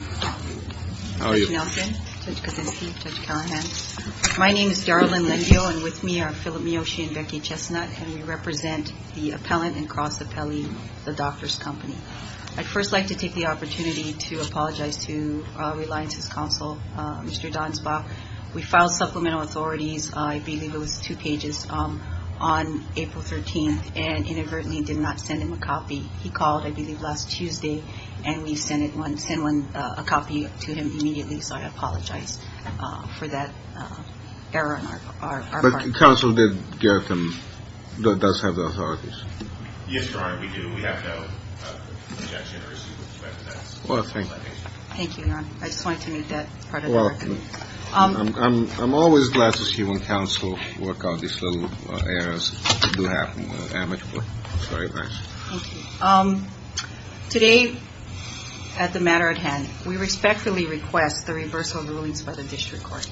I'd first like to take the opportunity to apologize to Reliance's counsel, Mr. Donsbach. We filed supplemental authorities, I believe it was two pages, on April 13th and inadvertently did not send him a copy. He called, I believe, last Tuesday and we sent one, sent one, a copy to him immediately. So I apologize for that error on our part. But counsel did get them, does have the authorities? Yes, Your Honor, we do. We have no objection or issue with the matter. Well, thank you. Thank you, Your Honor. I just wanted to make that part of the recommendation. Well, I'm always glad to see when counsel work out these little errors that do happen when they're amicable. Sorry about that. Thank you. Today, at the matter at hand, we respectfully request the reversal of rulings by the District Court.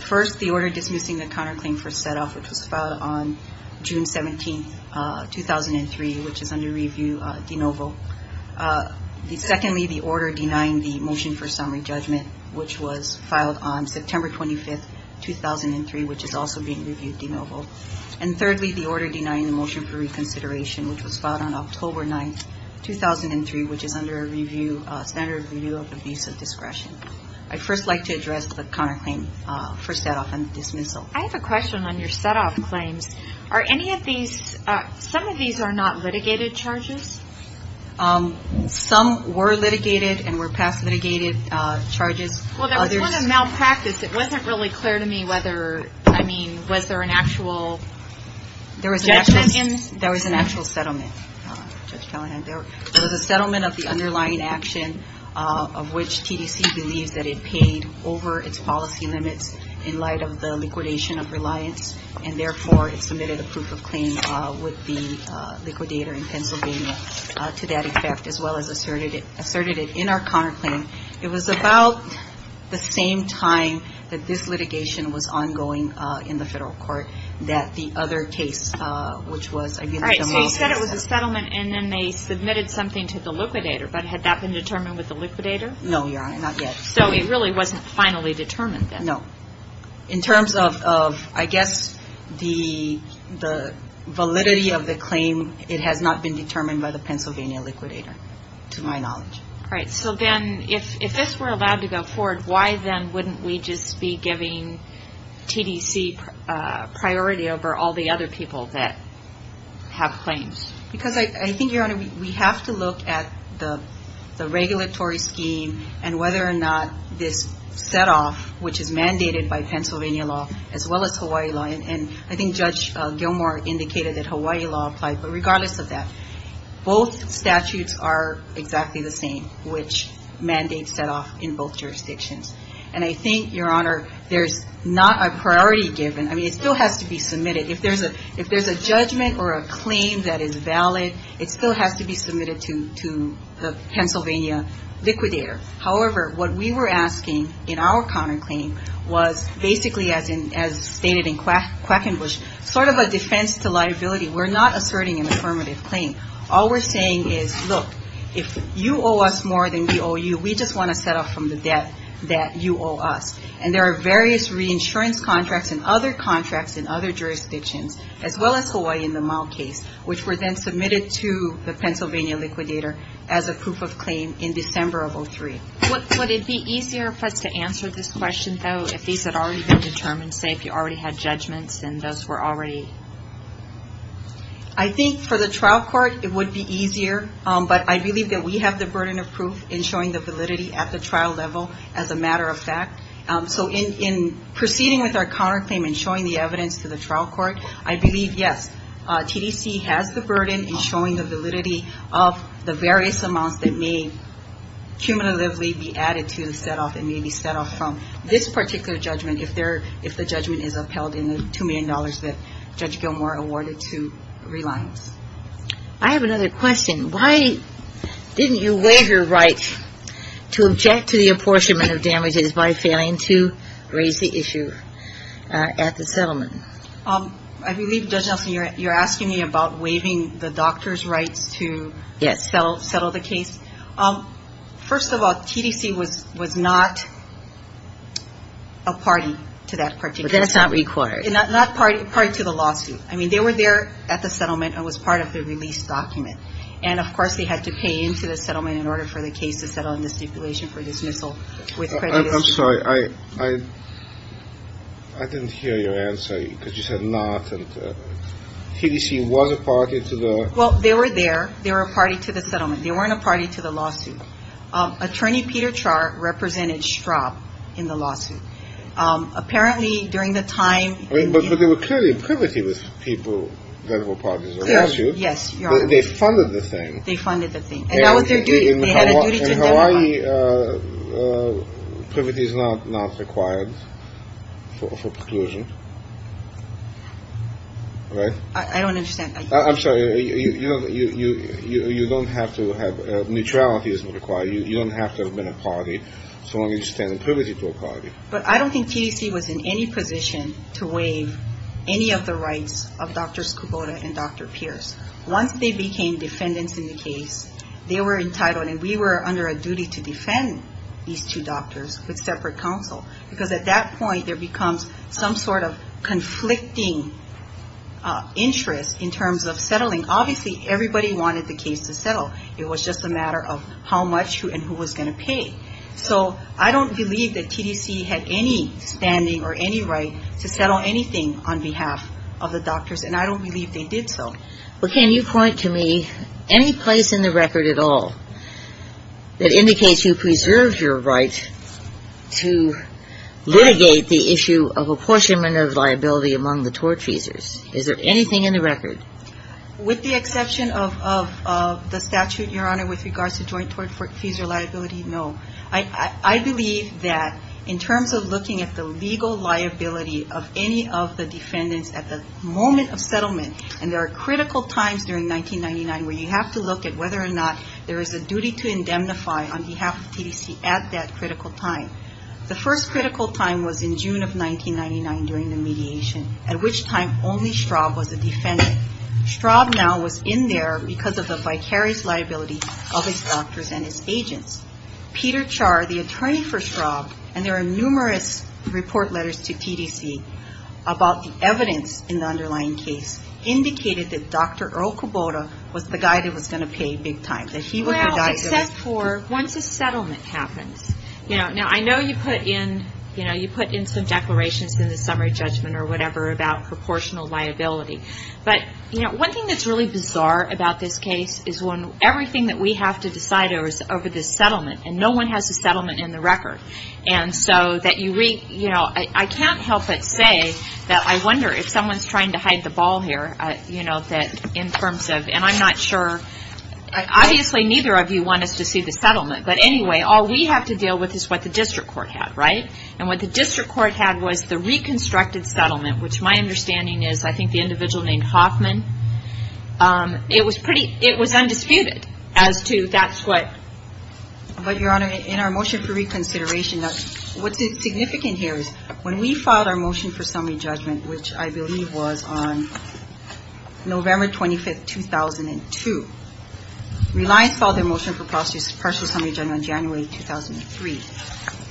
First, the order dismissing the counterclaim for set-off, which was filed on June 17th, 2003, which is under review de novo. Secondly, the order denying the motion for summary judgment, which was filed on September 25th, 2003, which is also being reviewed de novo. And thirdly, the order denying the motion for reconsideration, which was filed on October 9th, 2003, which is under review, standard review of the visa discretion. I'd first like to address the counterclaim for set-off and dismissal. I have a question on your set-off claims. Are any of these, some of these are not litigated charges? Some were litigated and were past litigated charges. Well, there was sort of malpractice. It wasn't really clear to me whether, I mean, was there an actual judgment? There was an actual settlement, Judge Callahan. There was a settlement of the underlying action of which TDC believes that it paid over its policy limits in light of the liquidation of reliance, and therefore it submitted a proof of claim with the liquidator in Pennsylvania to that effect, as well as in our counterclaim. It was about the same time that this litigation was ongoing in the federal court that the other case, which was, I believe, the DeMoss case. All right. So you said it was a settlement, and then they submitted something to the liquidator, but had that been determined with the liquidator? No, Your Honor, not yet. So it really wasn't finally determined then? No. In terms of, I guess, the validity of the claim, it has not been determined by the Pennsylvania liquidator, to my knowledge. All right. So then if this were allowed to go forward, why then wouldn't we just be giving TDC priority over all the other people that have claims? Because I think, Your Honor, we have to look at the regulatory scheme and whether or not this set off, which is mandated by Pennsylvania law, as well as Hawaii law, and I think Judge Gilmore indicated that Hawaii law applied, but regardless of that, both statutes are exactly the same, which mandate set off in both jurisdictions. And I think, Your Honor, there's not a priority given. I mean, it still has to be submitted. If there's a judgment or a claim that is valid, it still has to be submitted to the Pennsylvania liquidator. However, what we were asking in our counterclaim was basically, as stated in Quackenbush, sort of a defense to liability. We're not asserting an affirmative claim. All we're saying is, look, if you owe us more than we owe you, we just want to set off from the debt that you owe us. And there are various reinsurance contracts and other contracts in other jurisdictions, as well as Hawaii in the Mau case, which were then submitted to the Pennsylvania liquidator as a proof of claim in December of 2003. Would it be easier for us to answer this question, though, if these had already been determined, say, if you already had judgments and those were already? I think for the trial court, it would be easier. But I believe that we have the burden of proof in showing the validity at the trial level, as a matter of fact. So in proceeding with our counterclaim and showing the evidence to the trial court, I believe, yes, TDC has the burden in showing the validity of the various amounts that may cumulatively be added to the set off and may be set off from. This particular judgment, if the judgment is upheld in the $2 million that Judge Gilmour awarded to Reliance. I have another question. Why didn't you waive your rights to object to the apportionment of damages by failing to raise the issue at the settlement? I believe, Judge Nelson, you're asking me about waiving the doctor's rights to settle the case. First of all, TDC was not a party to that particular case. That's not required. Not a party to the lawsuit. I mean, they were there at the settlement and was part of the release document. And, of course, they had to pay into the settlement in order for the case to settle and the stipulation for dismissal with credit issue. I'm sorry. I didn't hear your answer because you said not. And TDC was a party to the Well, they were there. They were a party to the settlement. They weren't a party to the lawsuit. Attorney Peter Char represented Straub in the lawsuit. Apparently, during the time. But they were clearly privity with people that were parties to the lawsuit. Yes. They funded the thing. They funded the thing. And that was their duty. They had a duty to them. In Hawaii, privity is not required for preclusion, right? I don't understand. I'm sorry. You don't have to have neutrality as required. You don't have to have been a party so long as you stand in privity to a party. But I don't think TDC was in any position to waive any of the rights of Dr. Skubota and Dr. Pierce. Once they became defendants in the case, they were entitled and we were under a duty to defend these two doctors with separate counsel. Because at that point, there terms of settling. Obviously, everybody wanted the case to settle. It was just a matter of how much and who was going to pay. So, I don't believe that TDC had any standing or any right to settle anything on behalf of the doctors. And I don't believe they did so. Well, can you point to me any place in the record at all that indicates you preserved your right to litigate the issue of apportionment of liability among the tort feasors? Is there anything in the record? With the exception of the statute, Your Honor, with regards to joint tort fees or liability, no. I believe that in terms of looking at the legal liability of any of the defendants at the moment of settlement, and there are critical times during 1999 where you have to look at whether or not there is a duty to indemnify on behalf of TDC at that critical time. The first critical time was in June of 1999 during the mediation, at which time only Straub was a defendant. Straub now was in there because of the vicarious liability of his doctors and his agents. Peter Char, the attorney for Straub, and there are numerous report letters to TDC about the evidence in the underlying case, indicated that Dr. Earl Kubota was the guy that was going to pay big time, that he was the guy that was going to pay big time. Well, except for once a settlement happens. Now, I know you put in some declarations in the summary judgment or whatever about proportional liability, but one thing that's really bizarre about this case is when everything that we have to decide over this settlement, and no one has a settlement in the record. I can't help but say that I wonder if someone's trying to hide the ball here in terms of, and I'm not sure, obviously neither of you want us to see the settlement, but anyway, all we have to deal with is what the district court had, right? And what the district court had was the reconstructed settlement, which my understanding is, I think the individual named Hoffman, it was pretty, it was undisputed as to that's what. But, Your Honor, in our motion for reconsideration, what's significant here is when we filed our motion for summary judgment, which I believe was on November 25, 2002, Reliance filed their partial summary judgment on January 2003.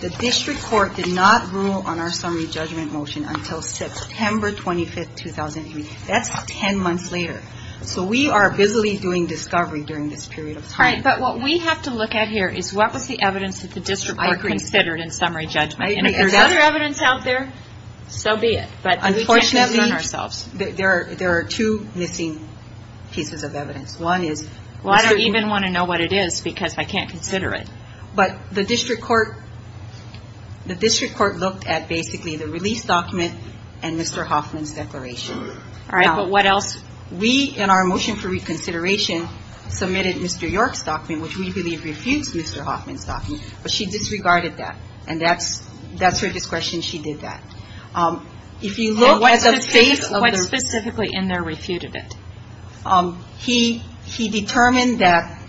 The district court did not rule on our summary judgment motion until September 25, 2003. That's 10 months later. So we are busily doing discovery during this period of time. All right, but what we have to look at here is what was the evidence that the district court considered in summary judgment? And if there's other evidence out there, so be it. But we can't do it on ourselves. Unfortunately, there are two missing pieces of evidence. One is... Well, I don't even want to know what it is because I can't consider it. But the district court looked at basically the release document and Mr. Hoffman's declaration. All right, but what else? We in our motion for reconsideration submitted Mr. York's document, which we believe refutes Mr. Hoffman's document, but she disregarded that. And that's her discretion she did that. If you look at the face of the... And what specifically in there refuted it? He determined that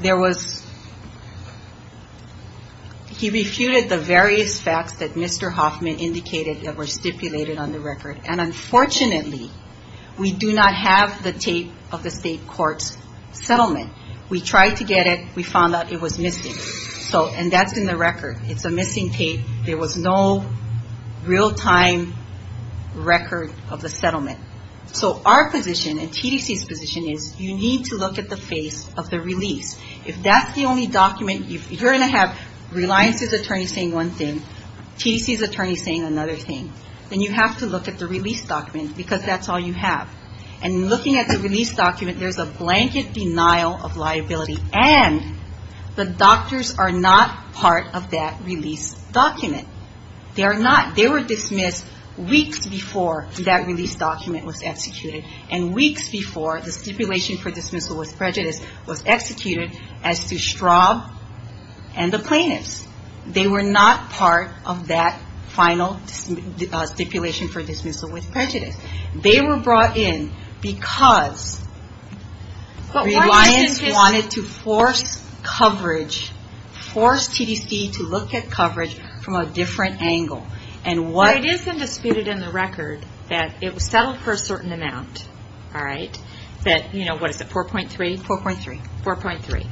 there was... He refuted the various facts that Mr. Hoffman indicated that were stipulated on the record. And unfortunately, we do not have the tape of the state court's settlement. We tried to get it. We found out it was missing. And that's in the record. It's a missing tape. There was no real-time record of the settlement. So our position and TDC's position is you need to look at the face of the release. If that's the only document... If you're going to have Reliance's attorney saying one thing, TDC's attorney saying another thing, then you have to look at the release document because that's all you have. And looking at the release document, there's a blanket denial of liability. And the doctors are not part of that release document. They are not. They were dismissed weeks before that release document was executed and weeks before the stipulation for dismissal with prejudice was executed as to Straub and the plaintiffs. They were not part of that final stipulation for dismissal with prejudice. They were brought in because Reliance wanted to force coverage, force TDC to look at coverage from a different angle. And it is undisputed in the record that it was settled for a certain amount, that 4.3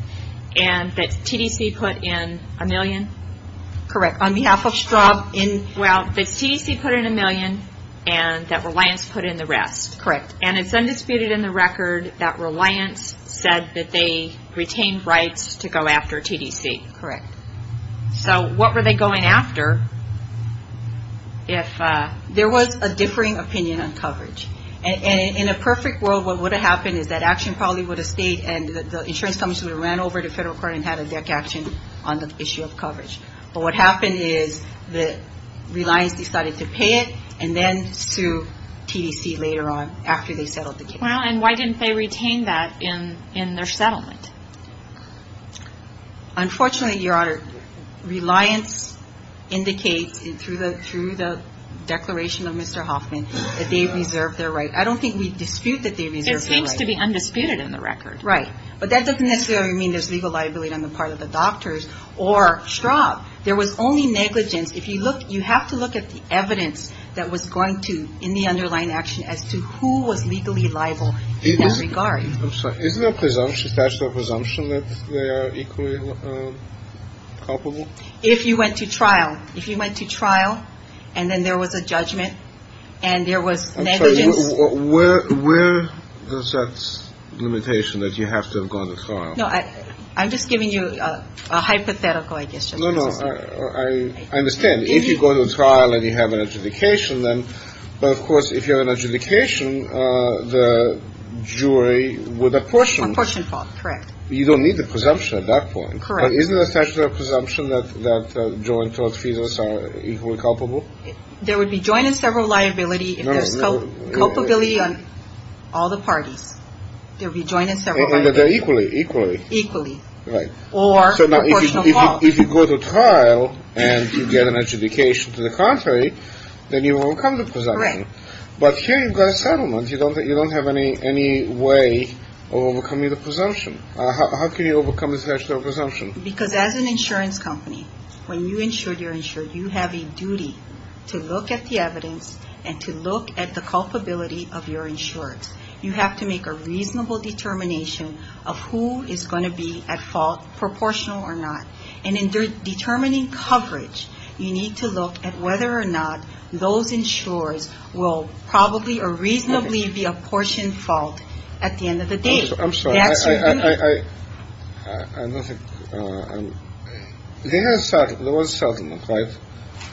and that TDC put in a million. Correct. On behalf of Straub in... Well, that TDC put in a million and that Reliance put in the rest. Correct. And it's undisputed in the record that Reliance said that they retained rights to go after TDC. Correct. So what were they going after if... There was a differing opinion on coverage. And in a perfect world, what would have happened is that action probably would have stayed and the insurance companies would have ran over to federal court and had a deck action on the issue of coverage. But what happened is that Reliance decided to pay it and then sue TDC later on after they settled the case. Well, and why didn't they retain that in their settlement? Unfortunately, Your Honor, Reliance indicates through the declaration of Mr. Hoffman that they reserved their right. I don't think we dispute that they reserved their right. It seems to be undisputed in the record. Right. But that doesn't necessarily mean there's legal liability on the part of the doctors or strop. There was only negligence. If you look, you have to look at the evidence that was going to in the underlying action as to who was legally liable in that regard. I'm sorry. Isn't there a presumption that they are equally culpable? If you went to trial, if you went to trial and then there was a judgment and there was negligence... I'm sorry. Where does that limitation that you have to have gone to trial... No, I'm just giving you a hypothetical, I guess, just in case it's okay. No, no. I understand. If you go to trial and you have an adjudication, then... But of course, if you have an adjudication, the jury would apportion... Apportion fault. Correct. You don't need the presumption at that point. Correct. But isn't there a statute of presumption that joint tort fees are equally culpable? There would be joint and several liability if there's culpability on all the parties. There would be joint and several liability. And that they're equally. Equally. Equally. Right. Or proportional fault. If you go to trial and you get an adjudication to the contrary, then you overcome the presumption. Correct. But here you've got a settlement. You don't have any way of overcoming the presumption. How can you overcome this statute of presumption? Because as an insurance company, when you're insured, you have a duty to look at the evidence and to look at the culpability of your insurance. You have to make a reasonable determination of who is going to be at fault, proportional or not. And in determining coverage, you need to look at whether or not those insurers will probably or reasonably be apportioned fault at the end of the day. I'm sorry. I don't think... There was settlement, right?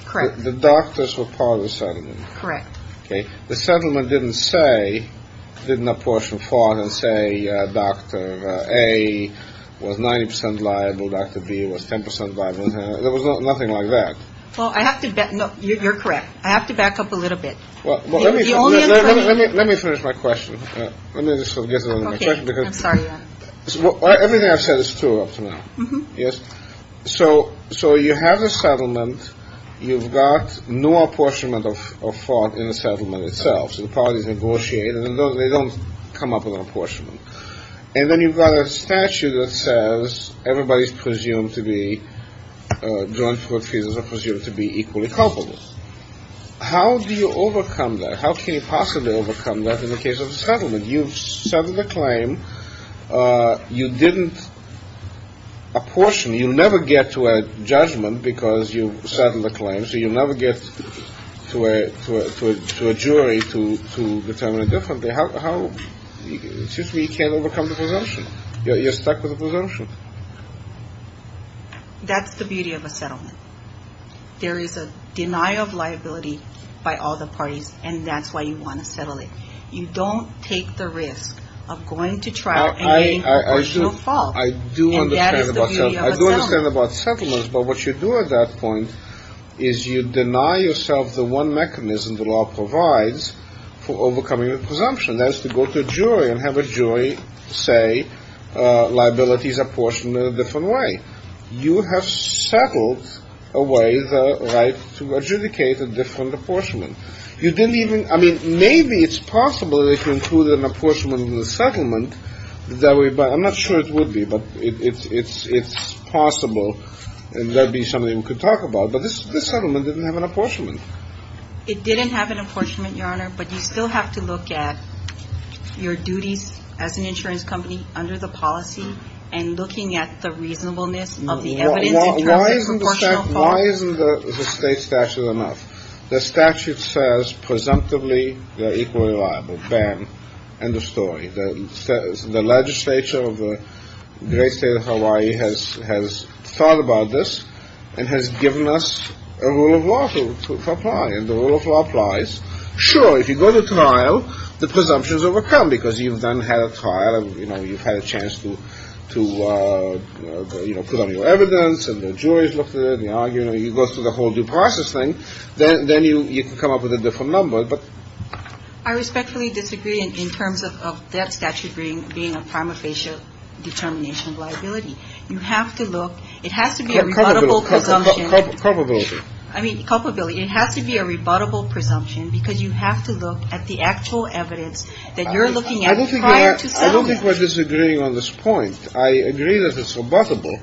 Correct. The doctors were part of the settlement. Correct. The settlement didn't say, didn't apportion fault and say, Dr. A was 90 percent liable. Dr. B was 10 percent liable. There was nothing like that. Well, I have to bet you're correct. I have to back up a little bit. Well, let me finish my question. Let me just get it on my check because everything I've said is true up to now. Yes. So, so you have a settlement. You've got no apportionment of fault in the settlement itself. So the parties negotiate and they don't come up with an apportionment. And then you've got a statute that says everybody's presumed to be, joint court fees are presumed to be equally culpable. How do you overcome that? How can you possibly overcome that in the case of a settlement? You've settled a claim. You didn't apportion. You never get to a judgment because you settled a claim. So you never get to a jury to determine a different. How, it seems to me you can't overcome the presumption. You're stuck with a presumption. That's the beauty of a settlement. There is a denial of liability by all the parties. And that's why you want to settle it. You don't take the risk of going to trial and getting no fault. I do understand about settlements. But what you do at that point is you deny yourself the one mechanism the law provides for overcoming a presumption. That is to go to a jury and have a jury say liabilities apportioned in a different way. You have settled away the right to adjudicate a different apportionment. You didn't even I mean maybe it's possible that you included an apportionment in the settlement that way. But I'm not sure it would be. But it's it's it's possible. And that'd be something we could talk about. But this settlement didn't have an apportionment. It didn't have an apportionment, Your Honor. But you still have to look at your duties as an insurance company under the policy and looking at the reasonableness of the evidence. Why isn't the state statute enough? The statute says presumptively they're equally liable. Bam. End of story. The legislature of the great state of Hawaii has has thought about this and has given us a rule of law to apply. And the rule of law applies. Sure, if you go to trial, the presumptions overcome because you've done had a trial. You know, you've had a chance to to, you know, put on your evidence and the jury's looked at it. You know, you know, you go through the whole due process thing. Then then you come up with a different number. But I respectfully disagree in terms of that statute being being a prima facie determination of liability. You have to look. It has to be a presumption of culpability. I mean, culpability. It has to be a rebuttable presumption because you have to look at the actual evidence that you're looking at. I don't think I don't think we're disagreeing on this point. I agree that it's rebuttable.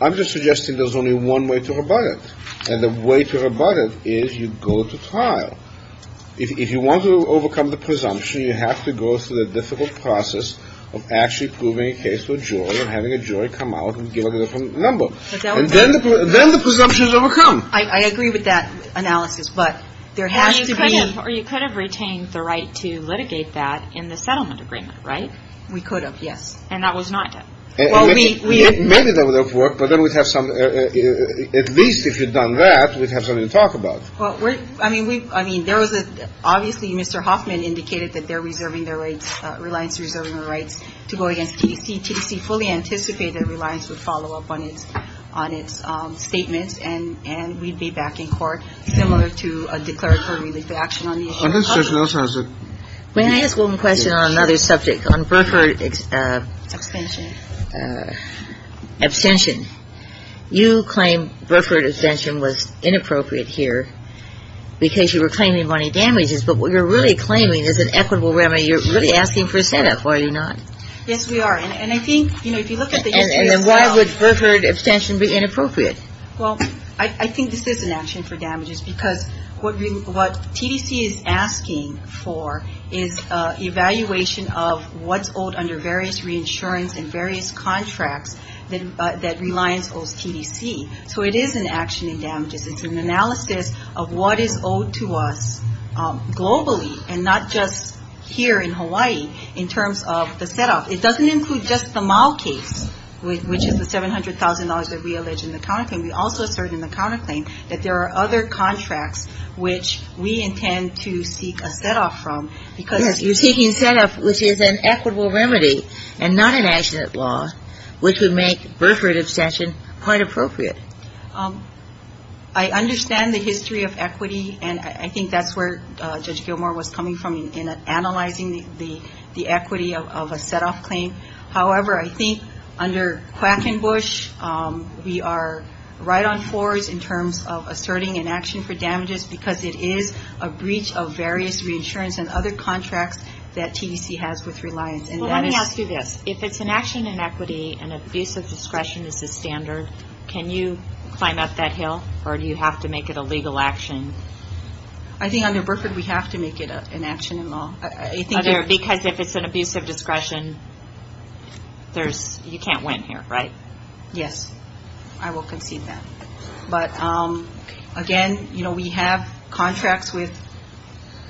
I'm just suggesting there's only one way to rebut it. And the way to rebut it is you go to trial. If you want to overcome the presumption, you have to go through the difficult process of actually proving a case with your having a jury come out and give a different number. And then then the presumptions overcome. I agree with that analysis, but there has to be or you could have retained the right to litigate that in the settlement agreement. Right. We could have. Yes. And that was not. Well, we maybe that would have worked, but then we'd have some at least if you'd done that, we'd have something to talk about. Well, I mean, we I mean, there was obviously Mr. Hoffman indicated that they're reserving their rights, reliance, reserving their rights to go against TTC, TTC fully anticipated reliance would follow up on its on its statements. And and we'd be back in court similar to a declaratory relief action on the other side. I mean, I asked one question on another subject on Burford extension abstention. You claim Burford extension was inappropriate here because you were claiming money damages. But what you're really claiming is an equitable remedy. You're really asking for a set up. Why are you not? Yes, we are. And I think, you know, if you look at it and then why would Burford abstention be inappropriate? Well, I think this is an action for damages because what what TTC is asking for is evaluation of what's owed under various reinsurance and various contracts that reliance owes TTC. So it is an action in damages. It's an analysis of what is owed to us globally and not just here in Hawaii in terms of the set up. It doesn't include just the mall case, which is the seven hundred thousand dollars that we allege in the country. We also assert in the counterclaim that there are other contracts which we intend to seek a set off from because you're taking set up, which is an equitable remedy and not an accident law, which would make Burford abstention quite appropriate. I understand the history of equity, and I think that's where Judge Gilmour was coming from in analyzing the equity of a set off claim. However, I think under Quackenbush, we are right on course in terms of asserting an action for damages because it is a breach of various reinsurance and other contracts that TTC has with reliance. Let me ask you this. If it's an action in equity and abuse of discretion is the standard, can you climb up that hill or do you have to make it a legal action? I think under Burford, we have to make it an action in law. Because if it's an abuse of discretion, you can't win here, right? Yes, I will concede that. But again, you know, we have contracts with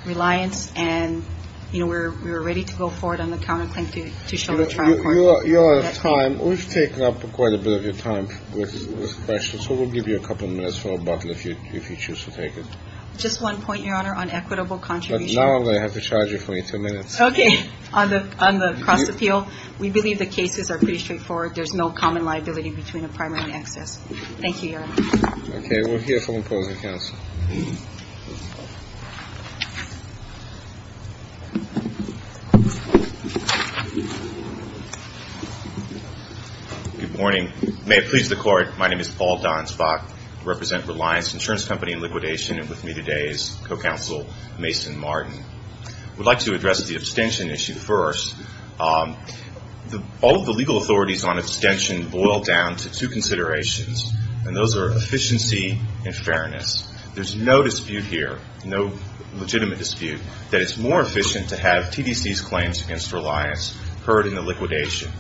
reliance and, you know, we're ready to go forward on the counterclaim to show the trial court. You're out of time. We've taken up quite a bit of your time with this question, so we'll give you a couple of minutes for a bottle if you choose to take it. Just one point, Your Honor, on equitable contribution. Now I'm going to have to charge you for ten minutes. Okay. On the cross appeal, we believe the cases are pretty straightforward. There's no common liability between a primary and excess. Thank you, Your Honor. Okay, we'll hear from the opposing counsel. Good morning. May it please the court. My name is Paul Donsbach, I represent Reliance Insurance Company and Liquidation. And with me today is co-counsel Mason Martin. We'd like to address the abstention issue first. All of the legal authorities on abstention boil down to two considerations, and those are efficiency and fairness. There's no dispute here, no legitimate dispute, that it's more efficient to have TDC's claims against Reliance heard in the liquidation.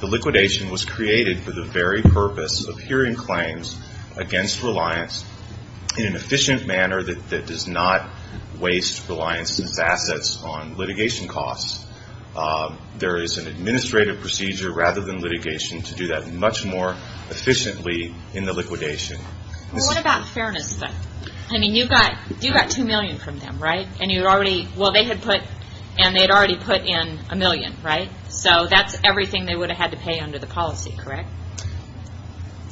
The liquidation was created for the very purpose of hearing claims against Reliance in an efficient manner that does not waste Reliance's assets on litigation costs. There is an administrative procedure, rather than litigation, to do that much more efficiently in the liquidation. What about fairness, though? I mean, you got two million from them, right? And you already, well, they had put, and they had already put in a million, right? So that's everything they would have had to pay under the policy, correct?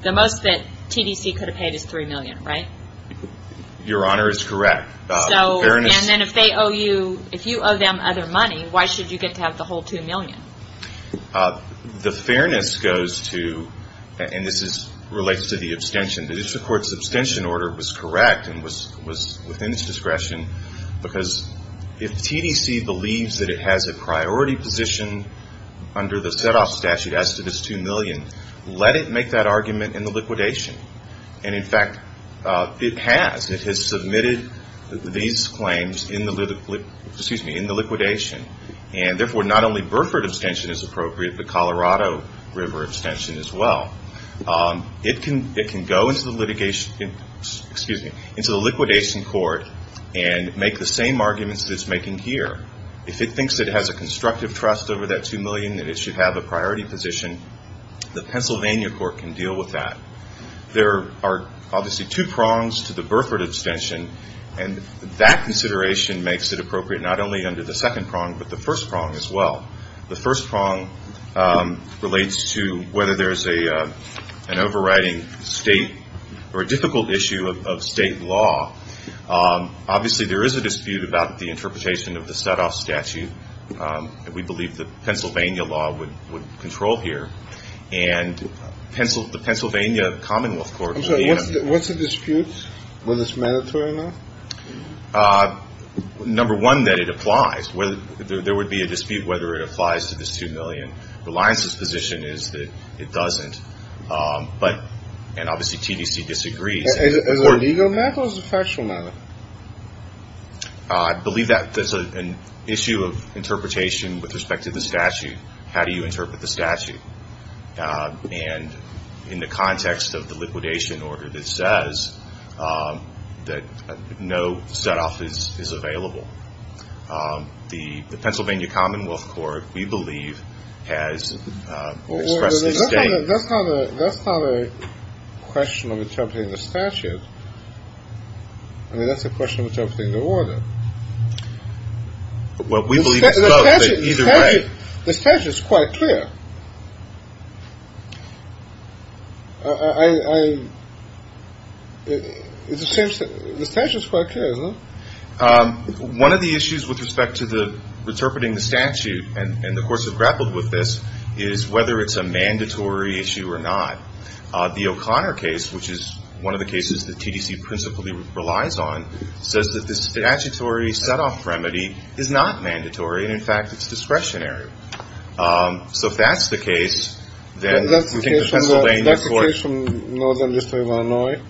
The most that TDC could have paid is three million, right? Your Honor is correct. So, and then if they owe you, if you owe them other money, why should you get to have the whole two million? The fairness goes to, and this relates to the abstention, the district court's abstention order was correct and was within its discretion, because if TDC believes that it has a priority position under the set-off statute as to this two million, let it make that argument in the liquidation. And in fact, it has. It has submitted these claims in the liquidation, and therefore not only Burford abstention is appropriate, but Colorado River abstention as well. It can go into the liquidation court and make the same arguments that it's making here. If it thinks that it has a constructive trust over that two million, that it should have a priority position, the Pennsylvania court can deal with that. There are obviously two prongs to the Burford abstention, and that consideration makes it appropriate not only under the second prong, but the first prong as well. The first prong relates to whether there's an overriding state or a difficult issue of state law. Obviously, there is a dispute about the interpretation of the set-off statute, and we believe the Pennsylvania law would control here. And the Pennsylvania commonwealth court would be able to... I'm sorry, what's the dispute, whether it's mandatory or not? Number one, that it applies, whether there would be a dispute whether it applies to this two million. Reliance's position is that it doesn't, but and obviously TDC disagrees. Is it a legal matter or is it a factual matter? I believe that there's an issue of interpretation with respect to the statute. How do you interpret the statute? And in the context of the liquidation order that says that no set-off is available, the Pennsylvania commonwealth court, we believe, has expressed a state... That's not a question of interpreting the statute. I mean, that's a question of interpreting the order. What we believe is both, but either way... The statute is quite clear. One of the issues with respect to the interpreting the statute and the courts have grappled with this is whether it's a mandatory issue or not. The O'Connor case, which is one of the cases that TDC principally relies on, says that this statutory set-off remedy is not mandatory. And in fact, it's discretionary. So if that's the case, then that's the case from Northern District of Illinois.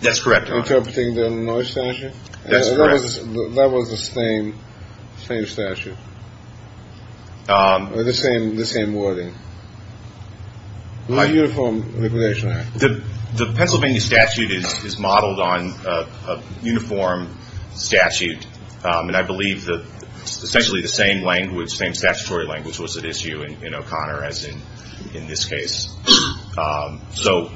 That's correct. Interpreting the Illinois statute. That's correct. That was the same, same statute. The same, the same wording. Uniform liquidation act. The Pennsylvania statute is modeled on a uniform statute. And I believe that essentially the same language, same statutory language was at issue in O'Connor as in this case. So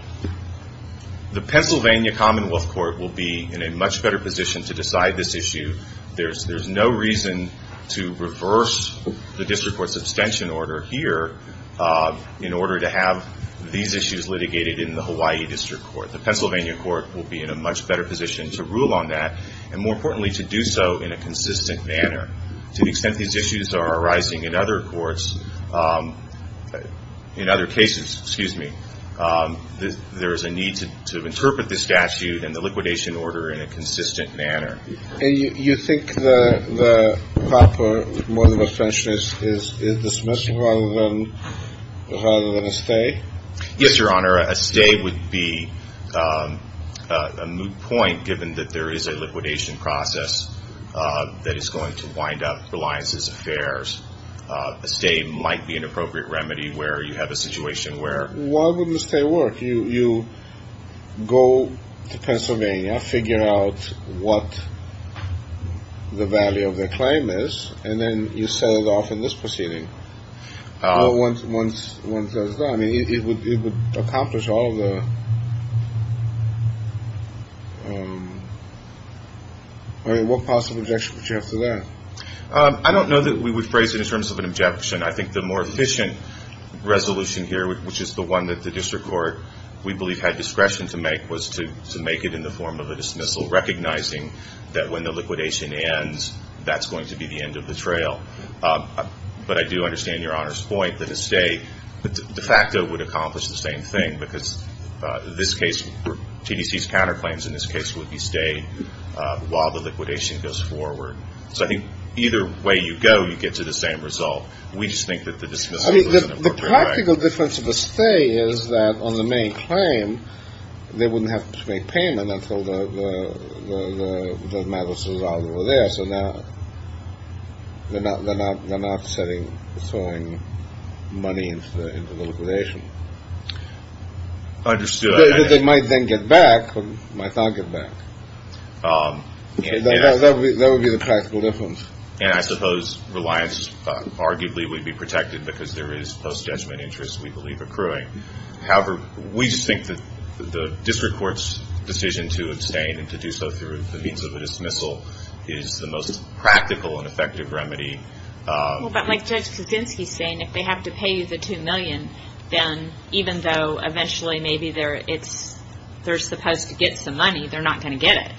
the Pennsylvania commonwealth court will be in a much better position to decide this issue. There's no reason to reverse the district court's abstention order here in order to have these issues litigated in the Hawaii district court. The Pennsylvania court will be in a much better position to rule on that. And more importantly, to do so in a consistent manner. To the extent these issues are arising in other courts, in other cases, excuse me, there is a need to interpret this statute and the liquidation order in a consistent manner. And you think the proper mode of abstention is dismissal rather than a stay? Yes, Your Honor. A stay would be a moot point, given that there is a liquidation process that is going to wind up Reliances Affairs. A stay might be an appropriate remedy where you have a situation where. Why wouldn't a stay work? You go to Pennsylvania, figure out what the value of the claim is, and then you set it off in this proceeding. Oh, once once once I mean, it would accomplish all the. What possible objection would you have to that? I don't know that we would phrase it in terms of an objection. I think the more efficient resolution here, which is the one that the district court, we believe, had discretion to make was to make it in the form of a dismissal, recognizing that when the liquidation ends, that's going to be the end of the trail. But I do understand Your Honor's point that a stay de facto would accomplish the same thing, because this case, TDC's counterclaims in this case would be stay while the liquidation goes forward. So I think either way you go, you get to the same result. We just think that the dismissal is an appropriate way. I mean, the practical difference of a stay is that on the main claim, they wouldn't have to make payment until the matter was resolved over there. So now they're not they're not they're not setting throwing money into the liquidation. Understood. They might then get back. Might not get back. That would be the practical difference. And I suppose reliance arguably would be protected because there is post judgment interest, we believe, accruing. However, we just think that the district court's decision to abstain and to do so through the means of a dismissal is the most practical and effective remedy. Well, but like Judge Kaczynski's saying, if they have to pay you the two million, then even though eventually maybe they're it's they're supposed to get some money, they're not going to get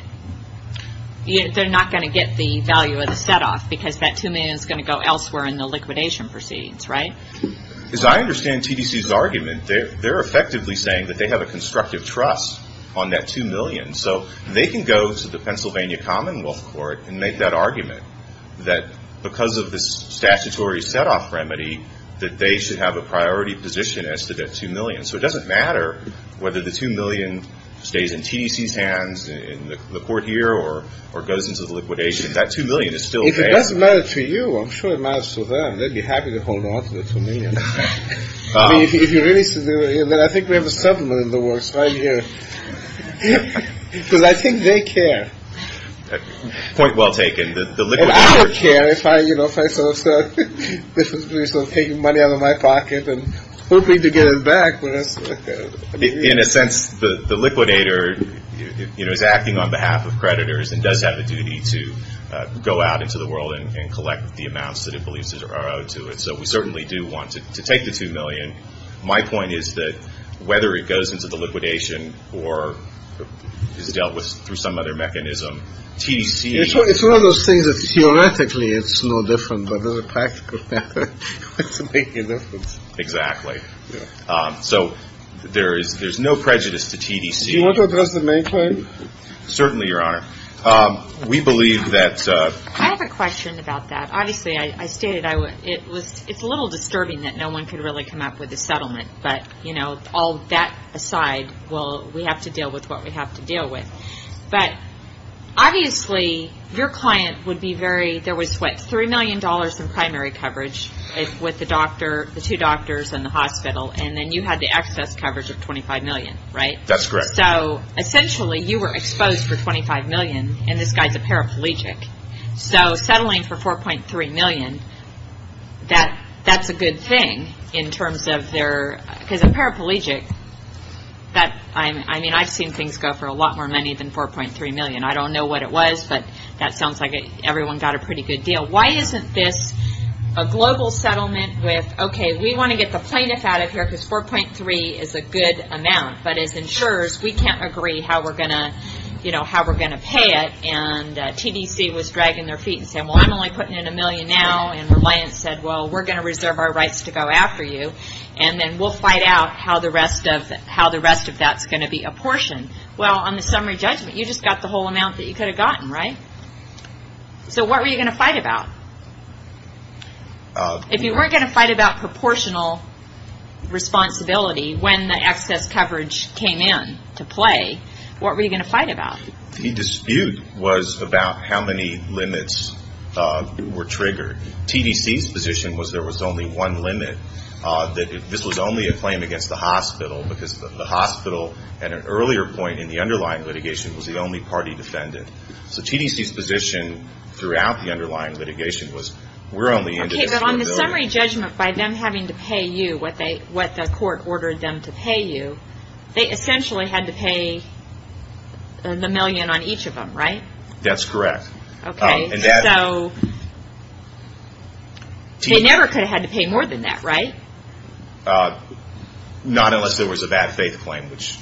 it. They're not going to get the value of the set off because that two million is going to go elsewhere in the liquidation proceedings. Right. As I understand TDC's argument, they're they're effectively saying that they have a constructive trust on that two million. So they can go to the Pennsylvania Commonwealth Court and make that argument that because of this statutory set off remedy, that they should have a priority position as to that two million. So it doesn't matter whether the two million stays in TDC's hands in the court here or or goes into the liquidation. If that two million is still if it doesn't matter to you, I'm sure it matters to them. They'd be happy to hold on to the two million if you really said that. I think we have a settlement in the works right here because I think they care. Point well taken. The liquid. I don't care if I, you know, if I sort of start taking money out of my pocket and hoping to get it back. In a sense, the liquidator is acting on behalf of creditors and does have a duty to go out into the world and collect the amounts that it believes are owed to it. So we certainly do want to take the two million. My point is that whether it goes into the liquidation or is dealt with through some other mechanism, TDC is one of those things that theoretically it's no different. But as a practical matter, it's making a difference. Exactly. So there is there's no prejudice to TDC. You want to address the main point? Certainly, your honor. We believe that I have a question about that. Obviously, I stated I would. It was it's a little disturbing that no one could really come up with a settlement. But, you know, all that aside, well, we have to deal with what we have to deal with. But obviously, your client would be very there was what, three million dollars in primary coverage with the doctor, the two doctors in the hospital. And then you had the excess coverage of twenty five million. Right. That's correct. So essentially you were exposed for twenty five million. And this guy's a paraplegic. So settling for four point three million, that that's a good thing in terms of their because a paraplegic that I mean, I've seen things go for a lot more money than four point three million. I don't know what it was, but that sounds like everyone got a pretty good deal. Why isn't this a global settlement with OK, we want to get the plaintiff out of here because four point three is a good amount. But as insurers, we can't agree how we're going to you know, how we're going to pay it. And TDC was dragging their feet and said, well, I'm only putting in a million now. And Reliance said, well, we're going to reserve our rights to go after you. And then we'll find out how the rest of how the rest of that's going to be apportioned. Well, on the summary judgment, you just got the whole amount that you could have gotten. Right. So what were you going to fight about? If you weren't going to fight about proportional responsibility when the excess coverage came in to play, what were you going to fight about? The dispute was about how many limits were triggered. TDC's position was there was only one limit, that this was only a claim against the hospital, because the hospital at an earlier point in the underlying litigation was the only party defendant. So TDC's position throughout the underlying litigation was we're only on the summary judgment by them having to pay you what they what the court ordered them to pay you. They essentially had to pay the million on each of them. Right. That's correct. OK, so they never could have had to pay more than that, right? Not unless there was a bad faith claim, which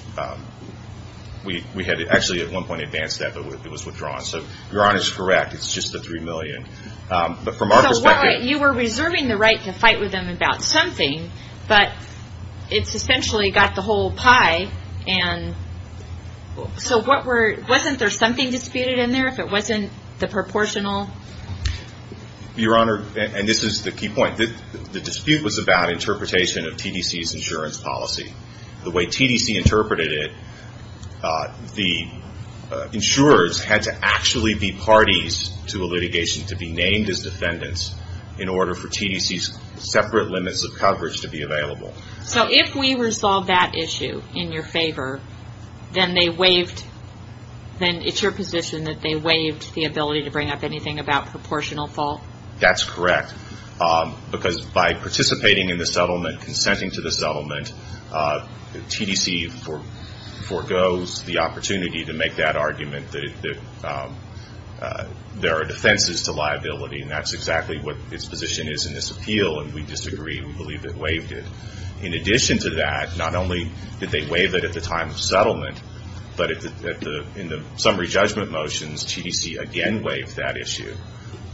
we we had actually at one point advanced that, but it was withdrawn. So your Honor is correct. It's just the three million. But from our perspective, you were reserving the right to fight with them about something, but it's essentially got the whole pie. And so what were wasn't there something disputed in there if it wasn't the proportional? Your Honor, and this is the key point that the dispute was about interpretation of TDC's insurance policy, the way TDC interpreted it. The insurers had to actually be parties to a litigation to be named as defendants in order for TDC's separate limits of coverage to be available. So if we resolve that issue in your favor, then they waived, then it's your position that they waived the ability to bring up anything about proportional fault? That's correct, because by participating in the settlement, consenting to the settlement, TDC for forgoes the opportunity to make that argument that there are defenses to liability. And that's exactly what its position is in this appeal, and we disagree. We believe it waived it. In addition to that, not only did they waive it at the time of settlement, but in the summary judgment motions, TDC again waived that issue.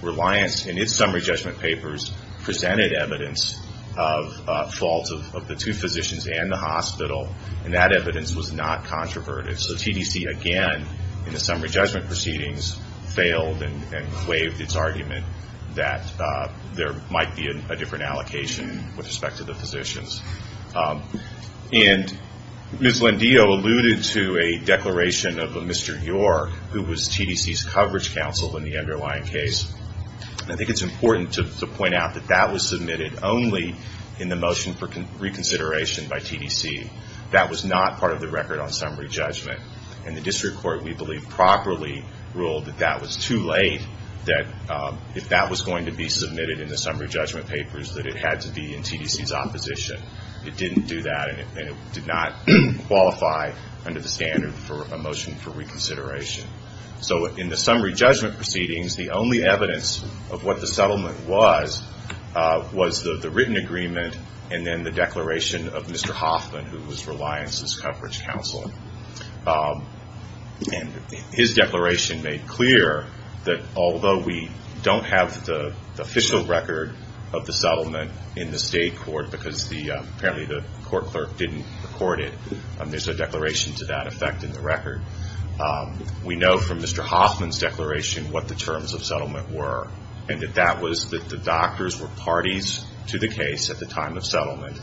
Reliance in its summary judgment papers presented evidence of fault of the two physicians and the hospital, and that evidence was not controverted. So TDC again, in the summary judgment proceedings, failed and waived its argument that there might be a different allocation with respect to the physicians. And Ms. Lindio alluded to a declaration of Mr. York, who was TDC's coverage counsel in the underlying case. I think it's important to point out that that was submitted only in the motion for reconsideration by TDC. That was not part of the record on summary judgment. And the district court, we believe, properly ruled that that was too late, that if that was going to be submitted in the summary judgment papers, that it had to be in TDC's opposition. It didn't do that, and it did not qualify under the standard for a motion for reconsideration. So in the summary judgment proceedings, the only evidence of what the settlement was, was the written agreement and then the declaration of Mr. Hoffman, who was Reliance's coverage counsel. And his declaration made clear that although we don't have the official record of the settlement in the state court, because apparently the court clerk didn't record it, there's a declaration to that effect in the record. We know from Mr. Hoffman's declaration what the terms of settlement were, and that that was that the doctors were parties to the case at the time of settlement,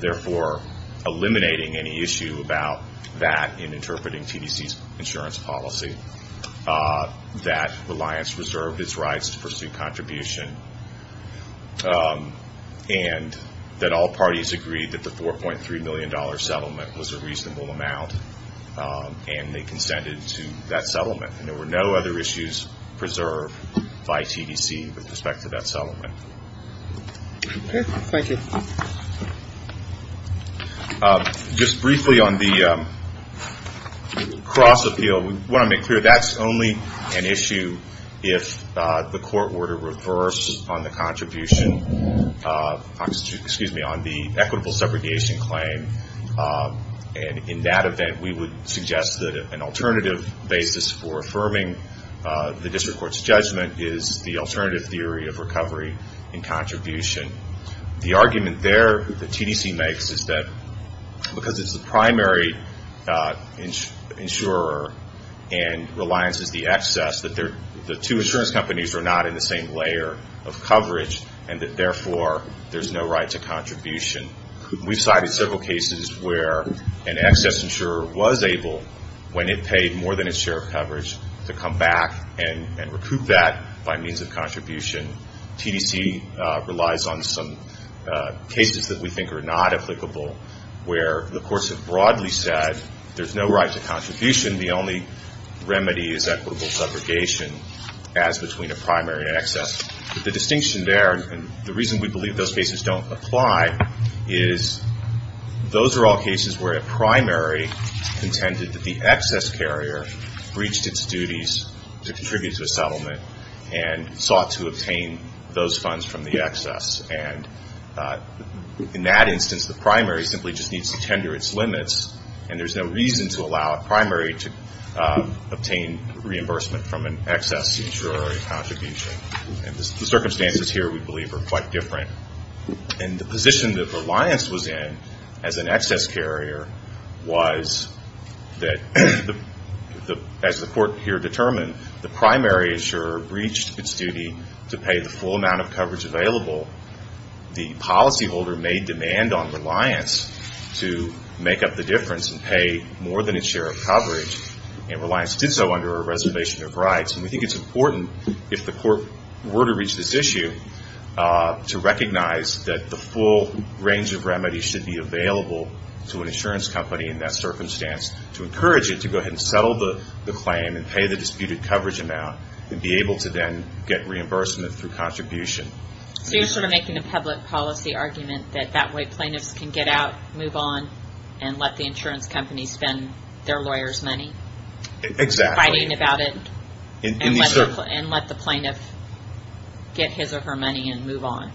therefore eliminating any issue about that in interpreting TDC's insurance policy, that Reliance reserved its rights to pursue contribution, and that all parties agreed that the $4.3 million settlement was a reasonable amount, and they consented to that settlement. And there were no other issues preserved by TDC with respect to that settlement. Just briefly on the cross-appeal, we want to make clear that's only an issue if the court were to reverse on the contribution, excuse me, on the equitable segregation claim. And in that event, we would suggest that an alternative basis for affirming the district court's judgment is the alternative theory of recovery and contribution. The argument there that TDC makes is that because it's the primary insurer and Reliance is the excess, that the two insurance companies are not in the same layer of coverage, and that therefore there's no right to contribution. We've cited several cases where an excess insurer was able, when it paid more than its share of coverage, to come back and recoup that by means of contribution. TDC relies on some cases that we think are not applicable, where the courts have broadly said there's no right to contribution, the only remedy is equitable segregation as between a primary and excess. The distinction there, and the reason we believe those cases don't apply, is those are all cases where a primary intended that the excess carrier breached its duties to contribute to a settlement and sought to obtain those funds from the excess. And in that instance, the primary simply just needs to tender its limits, and there's no reason to allow a primary to obtain reimbursement from an excess insurer contribution. The circumstances here, we believe, are quite different. And the position that Reliance was in as an excess carrier was that, as the court here determined, the primary insurer breached its duty to pay the full amount of coverage available. The policyholder made demand on Reliance to make up the difference and pay more than its share of coverage, and Reliance did so under a reservation of rights. We think it's important, if the court were to reach this issue, to recognize that the full range of remedies should be available to an insurance company in that circumstance, to encourage it to go ahead and settle the claim and pay the disputed coverage amount and be able to then get reimbursement through contribution. So you're sort of making a public policy argument that that way plaintiffs can get out, move on, and let the insurance company spend their lawyers' money? Exactly. Fighting about it? And let the plaintiff get his or her money and move on?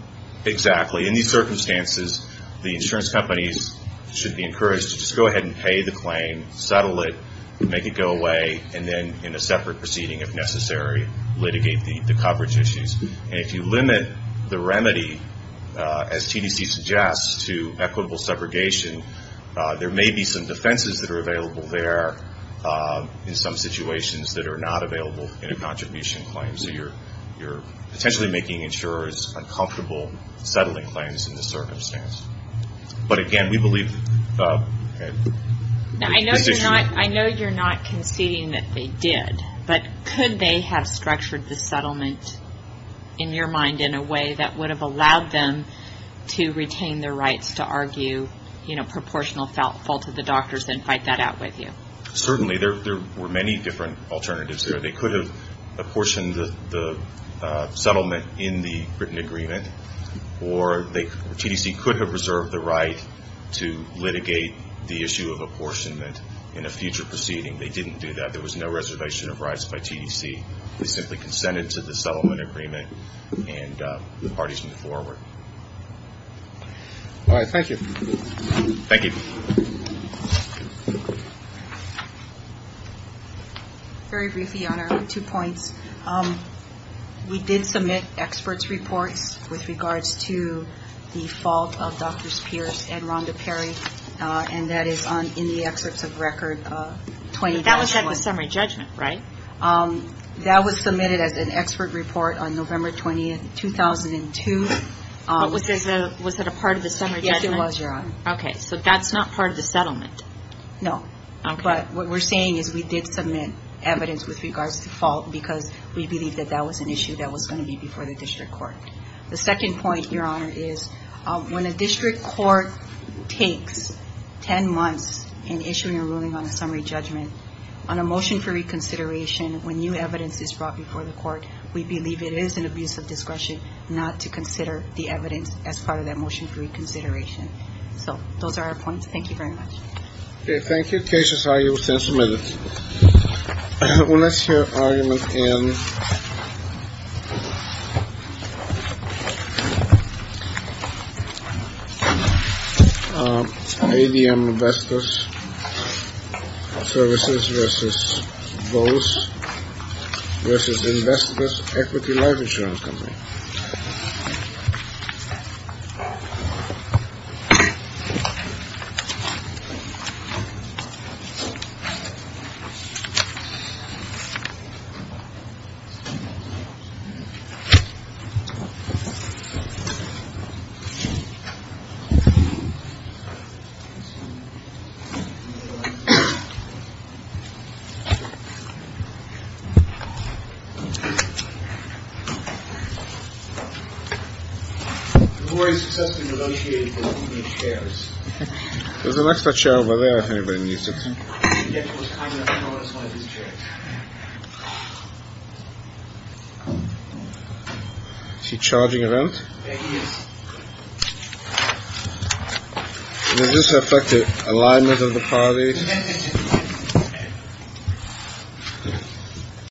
Exactly. In these circumstances, the insurance companies should be encouraged to just go ahead and pay the claim, settle it, make it go away, and then, in a separate proceeding, if necessary, litigate the coverage issues. And if you limit the remedy, as TDC suggests, to equitable segregation, there may be some defenses that are available there, in some situations, that are not available in a contribution claim. So you're potentially making insurers uncomfortable settling claims in this circumstance. But again, we believe... I know you're not conceding that they did, but could they have structured the settlement, in your mind, in a way that would have allowed them to retain their rights to argue, you know, proportional fault to the doctors and fight that out with you? Certainly. There were many different alternatives there. They could have apportioned the settlement in the written agreement, or TDC could have reserved the right to litigate the issue of apportionment in a future proceeding. They didn't do that. There was no reservation of rights by TDC. They simply consented to the settlement agreement, and the parties moved forward. All right. Thank you. Thank you. Very briefly, Your Honor, on two points. We did submit experts' reports with regards to the fault of Drs. Pierce and Rhonda Perry, and that is in the excerpts of Record 20-21. That was like the summary judgment, right? That was submitted as an expert report on November 20, 2002. Was that a part of the summary judgment? Yes, it was, Your Honor. Okay. So that's not part of the settlement? No. But what we're saying is we did submit evidence with regards to fault because we believe that that was an issue that was going to be before the district court. The second point, Your Honor, is when a district court takes 10 months in issuing a ruling on a summary judgment on a motion for reconsideration when new evidence is brought before the court, we believe it is an abuse of discretion not to consider the evidence as part of that motion for reconsideration. So those are our points. Thank you very much. Okay. Thank you. Cases are used and submitted. Let's hear argument in ADM Investors Services v. Vose v. Investors Equity Life Insurance Company. Okay. The lawyer has successfully negotiated for the company's shares. There's an extra chair over there if anybody needs it. Is he charging a rent? Yeah, he is. Does this affect the alignment of the parties?